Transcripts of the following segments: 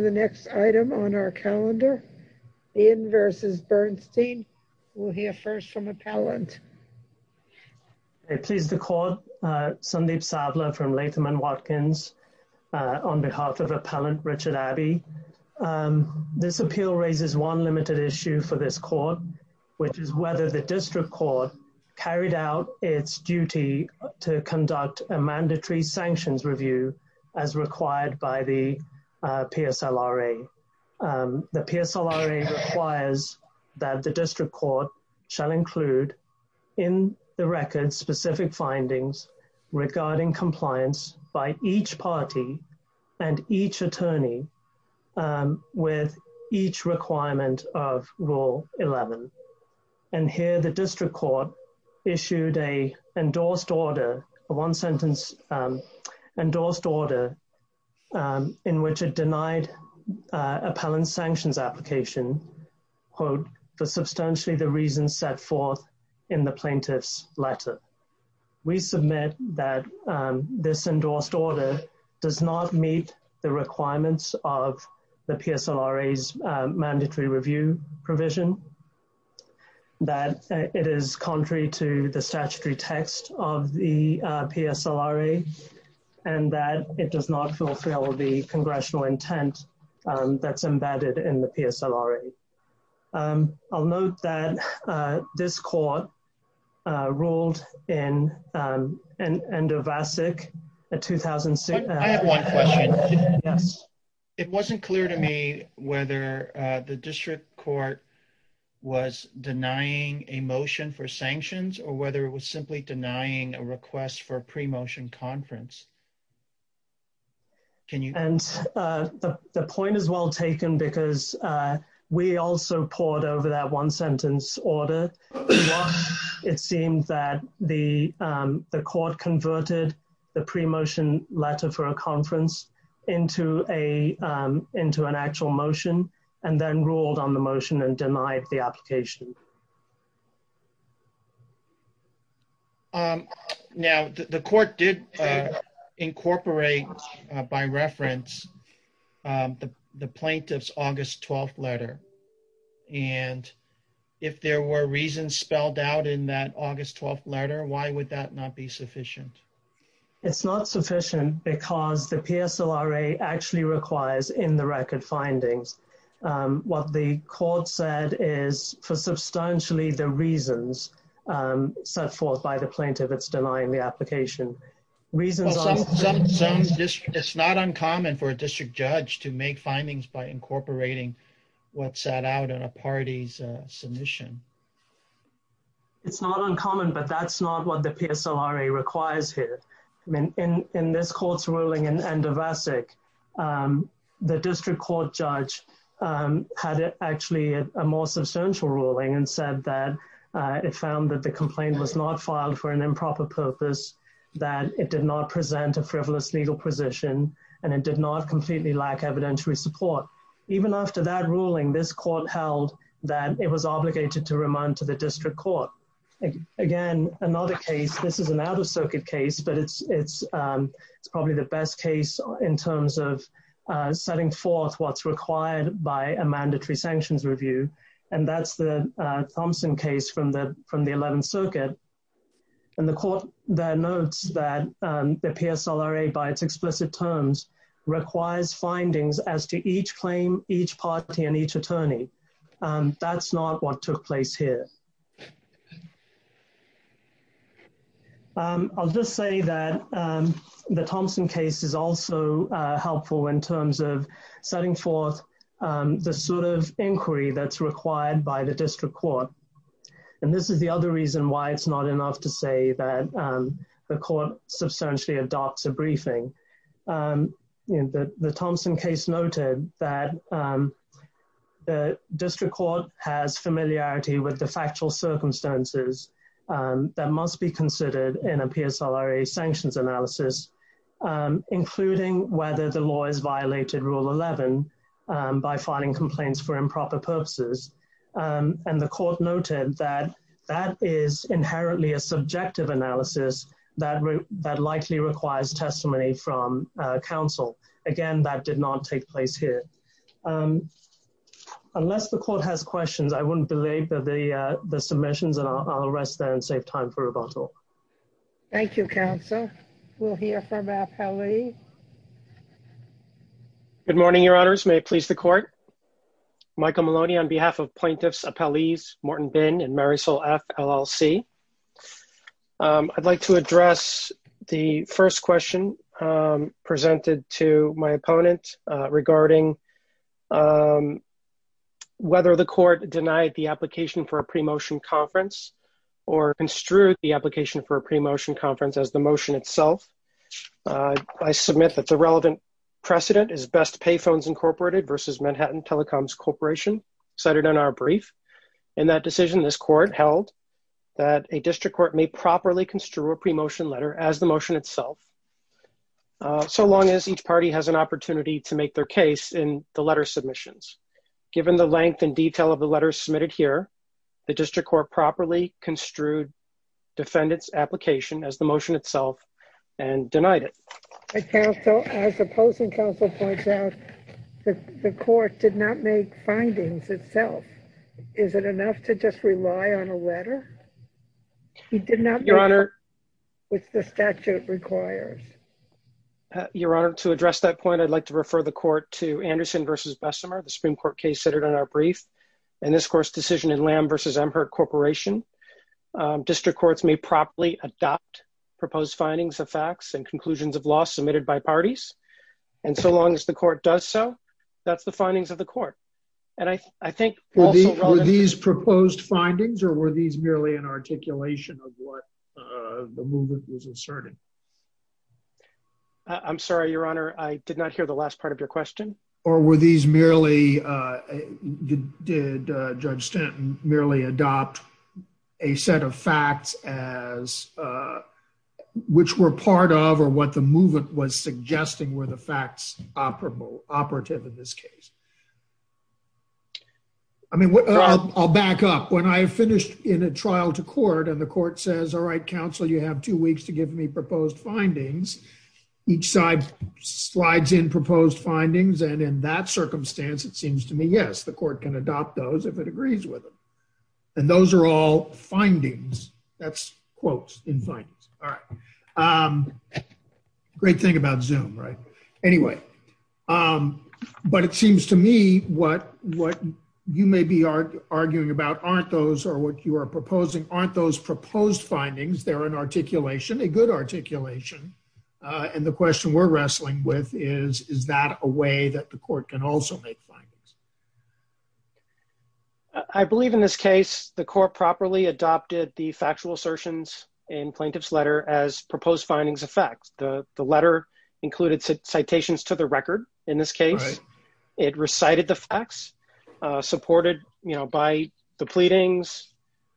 We'll hear first from Appellant. I please the court, Sandeep Savla from Latham & Watkins, on behalf of Appellant Richard Abbey. This appeal raises one limited issue for this court, which is whether the district court carried out its duty to conduct a mandatory sanctions review as required by the PSLRA. The PSLRA requires that the district court shall include in the record specific findings regarding compliance by each party and each attorney with each requirement of Rule 11. And here the district court issued a endorsed order, a one sentence endorsed order, in which it denied Appellant's sanctions application, quote, for substantially the reasons set forth in the plaintiff's letter. We submit that this endorsed order does not meet the requirements of the PSLRA's mandatory review provision, that it is contrary to the statutory text of the PSLRA, and that it does not fulfill the congressional intent that's embedded in the PSLRA. I'll note that this court ruled in ENDOVACIC in 2006. I have one question. Yes. It wasn't clear to me whether the district court was denying a motion for sanctions or whether it was simply denying a request for a pre-motion conference. And the point is well taken because we also poured over that one sentence order. It seemed that the court converted the pre-motion letter for a conference into an actual motion and then ruled on the motion and denied the application. Now, the court did incorporate by reference the plaintiff's August 12th letter. And if there were reasons spelled out in that August 12th letter, why would that not be sufficient? It's not sufficient because the PSLRA actually requires in the record findings. What the court said is for substantially the reasons set forth by the plaintiff, it's denying the application. It's not uncommon for a district judge to make findings by incorporating what's set out in a party's submission. It's not uncommon, but that's not what the PSLRA requires here. In this court's ruling in Endovacic, the district court judge had actually a more substantial ruling and said that it found that the complaint was not filed for an improper purpose, that it did not present a frivolous legal position, and it did not completely lack evidentiary support. Even after that ruling, this court held that it was obligated to remand to the district court. Again, another case, this is an out-of-circuit case, but it's probably the best case in terms of setting forth what's required by a mandatory sanctions review. And that's the Thompson case from the 11th Circuit. And the court notes that the PSLRA, by its explicit terms, requires findings as to each claim, each party, and each attorney. That's not what took place here. I'll just say that the Thompson case is also helpful in terms of setting forth the sort of inquiry that's required by the district court. And this is the other reason why it's not enough to say that the court substantially adopts a briefing. The Thompson case noted that the district court has familiarity with the factual circumstances that must be considered in a PSLRA sanctions analysis, including whether the law has violated Rule 11 by filing complaints for improper purposes. And the court noted that that is inherently a subjective analysis that likely requires testimony from counsel. Again, that did not take place here. Unless the court has questions, I wouldn't belabor the submissions, and I'll rest there and save time for rebuttal. Thank you, Counsel. We'll hear from Appellee. Good morning, Your Honors. May it please the court? Michael Maloney on behalf of Plaintiffs' Appellees Morton Bin and Marisol F. LLC. I'd like to address the first question presented to my opponent regarding whether the court denied the application for a pre-motion conference or construed the application for a pre-motion conference as the motion itself. I submit that the relevant precedent is Best Payphones Incorporated versus Manhattan Telecoms Corporation cited in our brief. In that decision, this court held that a district court may properly construe a pre-motion letter as the motion itself, so long as each party has an opportunity to make their case in the letter submissions. Given the length and detail of the letters submitted here, the district court properly construed defendant's application as the motion itself and denied it. Counsel, as opposing counsel points out, the court did not make findings itself. Is it enough to just rely on a letter? Your Honor. Which the statute requires. Your Honor, to address that point, I'd like to refer the court to Anderson versus Bessemer, the Supreme Court case centered on our brief. In this court's decision in Lamb versus Amherst Corporation, district courts may properly adopt proposed findings of facts and conclusions of law submitted by parties. And so long as the court does so, that's the findings of the court. Were these proposed findings or were these merely an articulation of what the movement was asserting? I'm sorry, Your Honor, I did not hear the last part of your question. Or were these merely, did Judge Stanton merely adopt a set of facts as, which were part of or what the movement was suggesting were the facts operable, operative in this case? I mean, I'll back up. When I finished in a trial to court and the court says, all right, counsel, you have two weeks to give me proposed findings. Each side slides in proposed findings. And in that circumstance, it seems to me, yes, the court can adopt those if it agrees with them. And those are all findings. That's quotes in findings. All right. Great thing about Zoom, right? Anyway, but it seems to me what you may be arguing about aren't those, or what you are proposing aren't those proposed findings. They're an articulation, a good articulation. And the question we're wrestling with is, is that a way that the court can also make findings? I believe in this case the court properly adopted the factual assertions in plaintiff's letter as proposed findings of facts. The letter included citations to the record in this case. It recited the facts supported by the pleadings.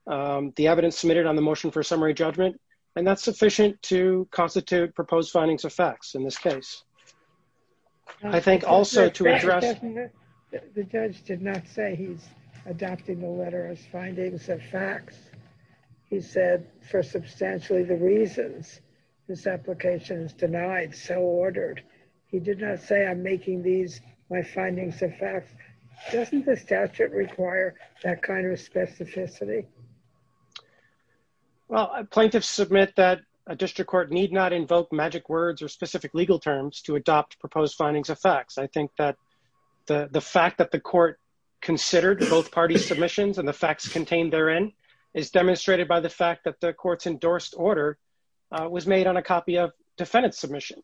The evidence submitted on the motion for summary judgment. And that's sufficient to constitute proposed findings of facts in this case. I think also to address. The judge did not say he's adopting the letter as findings of facts. He said for substantially the reasons this application is denied, so ordered. He did not say I'm making these my findings of facts. Doesn't the statute require that kind of specificity? Well, plaintiffs submit that a district court need not invoke magic words or specific legal terms to adopt proposed findings of facts. I think that the fact that the court considered both parties' submissions and the facts contained therein is demonstrated by the fact that the court's endorsed order was made on a copy of defendant's submission.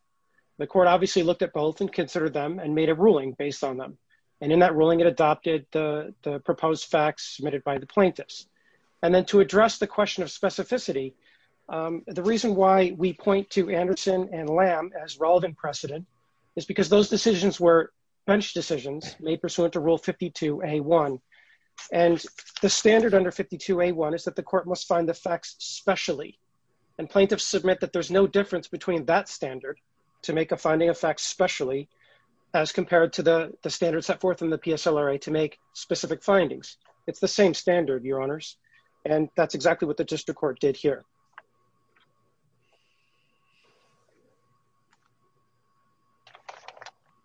The court obviously looked at both and considered them and made a ruling based on them. And in that ruling it adopted the proposed facts submitted by the plaintiffs. And then to address the question of specificity, the reason why we point to Anderson and Lamb as relevant precedent is because those decisions were bench decisions made pursuant to rule 52A1. And the standard under 52A1 is that the court must find the facts specially. And plaintiffs submit that there's no difference between that standard to make a finding of facts specially as compared to the standard set forth in the PSLRA to make specific findings. It's the same standard, Your Honors. And that's exactly what the district court did here.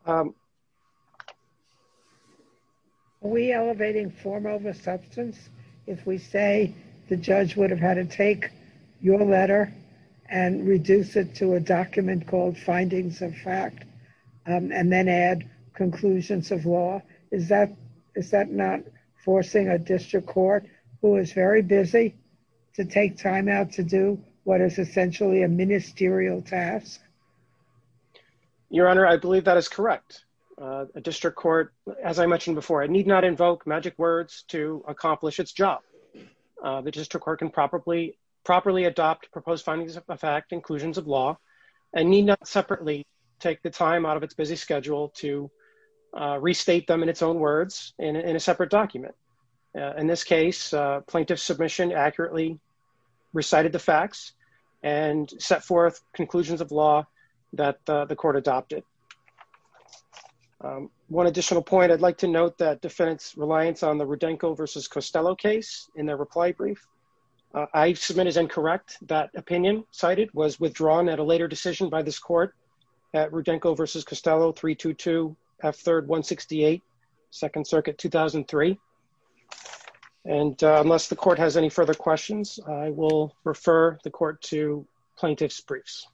Are we elevating form over substance if we say the judge would have had to take your letter and reduce it to a document called findings of fact and then add conclusions of law? Is that not forcing a district court who is very busy to take time out to do what is essentially a ministerial task? Your Honor, I believe that is correct. A district court, as I mentioned before, need not invoke magic words to accomplish its job. The district court can properly adopt proposed findings of fact inclusions of law and need not separately take the time out of its busy schedule to restate them in its own words in a separate document. In this case, plaintiff submission accurately recited the facts and set forth conclusions of law that the court adopted. One additional point I'd like to note that defense reliance on the Rodenko versus Costello case in their reply brief. I submit as incorrect that opinion cited was withdrawn at a later decision by this court at Rodenko versus Costello 322 F3rd 168 Second Circuit 2003. And unless the court has any further questions, I will refer the court to plaintiff's briefs.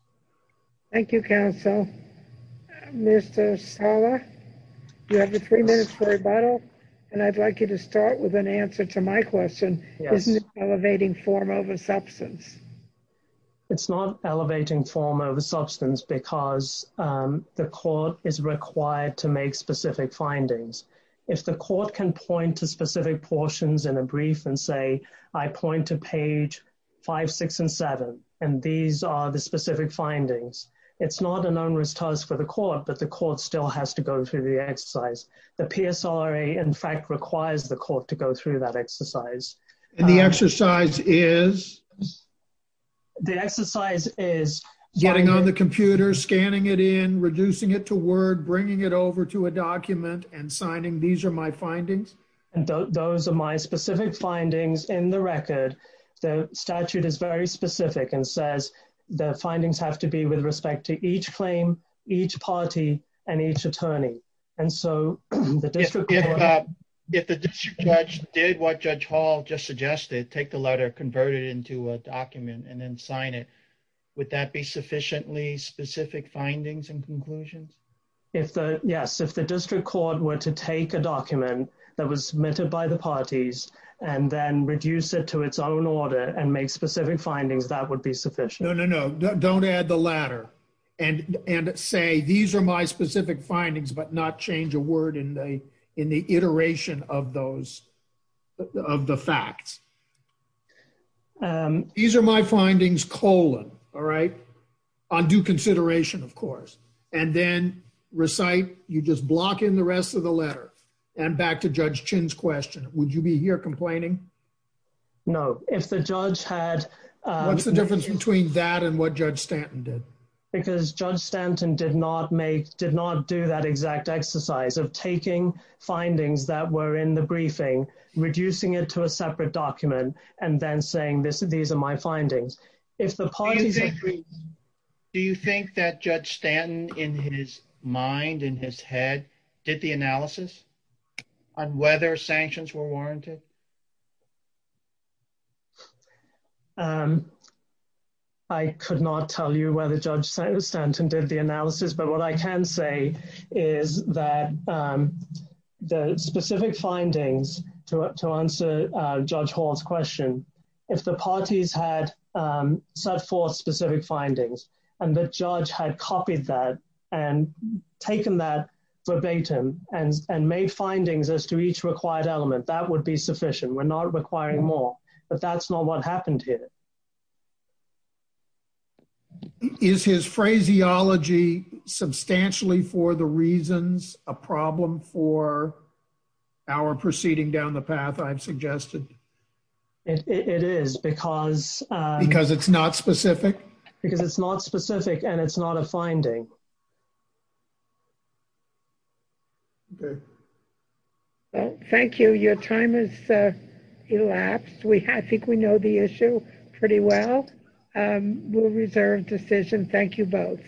Thank you, counsel. Mr. Sala, you have three minutes for rebuttal. And I'd like you to start with an answer to my question. Yes. Elevating form over substance. It's not elevating form over substance because the court is required to make specific findings. If the court can point to specific portions in a brief and say, I point to page five, six and seven. And these are the specific findings. It's not an onerous task for the court, but the court still has to go through the exercise. The PSRA, in fact, requires the court to go through that exercise. And the exercise is? The exercise is getting on the computer, scanning it in, reducing it to word, bringing it over to a document and signing. These are my findings. And those are my specific findings in the record. The statute is very specific and says the findings have to be with respect to each claim, each party and each attorney. If the district judge did what Judge Hall just suggested, take the letter, convert it into a document and then sign it, would that be sufficiently specific findings and conclusions? Yes. If the district court were to take a document that was submitted by the parties and then reduce it to its own order and make specific findings, that would be sufficient. No, no, no. Don't add the latter and and say these are my specific findings, but not change a word in the in the iteration of those of the facts. These are my findings, colon. All right. On due consideration, of course. And then recite. You just block in the rest of the letter. And back to Judge Chin's question. Would you be here complaining? No. What's the difference between that and what Judge Stanton did? Because Judge Stanton did not make did not do that exact exercise of taking findings that were in the briefing, reducing it to a separate document, and then saying this, these are my findings. Do you think that Judge Stanton in his mind, in his head, did the analysis on whether sanctions were warranted? I could not tell you whether Judge Stanton did the analysis, but what I can say is that the specific findings to answer Judge Hall's question, if the parties had set forth specific findings and the judge had copied that and taken that verbatim and made findings as to each required element, that would be sufficient. We're not requiring more, but that's not what happened here. Is his phraseology substantially for the reasons a problem for our proceeding down the path I've suggested? It is because... Because it's not specific? Because it's not specific and it's not a finding. Thank you. Thank you. Your time has elapsed. I think we know the issue pretty well. We'll reserve decision. Thank you both.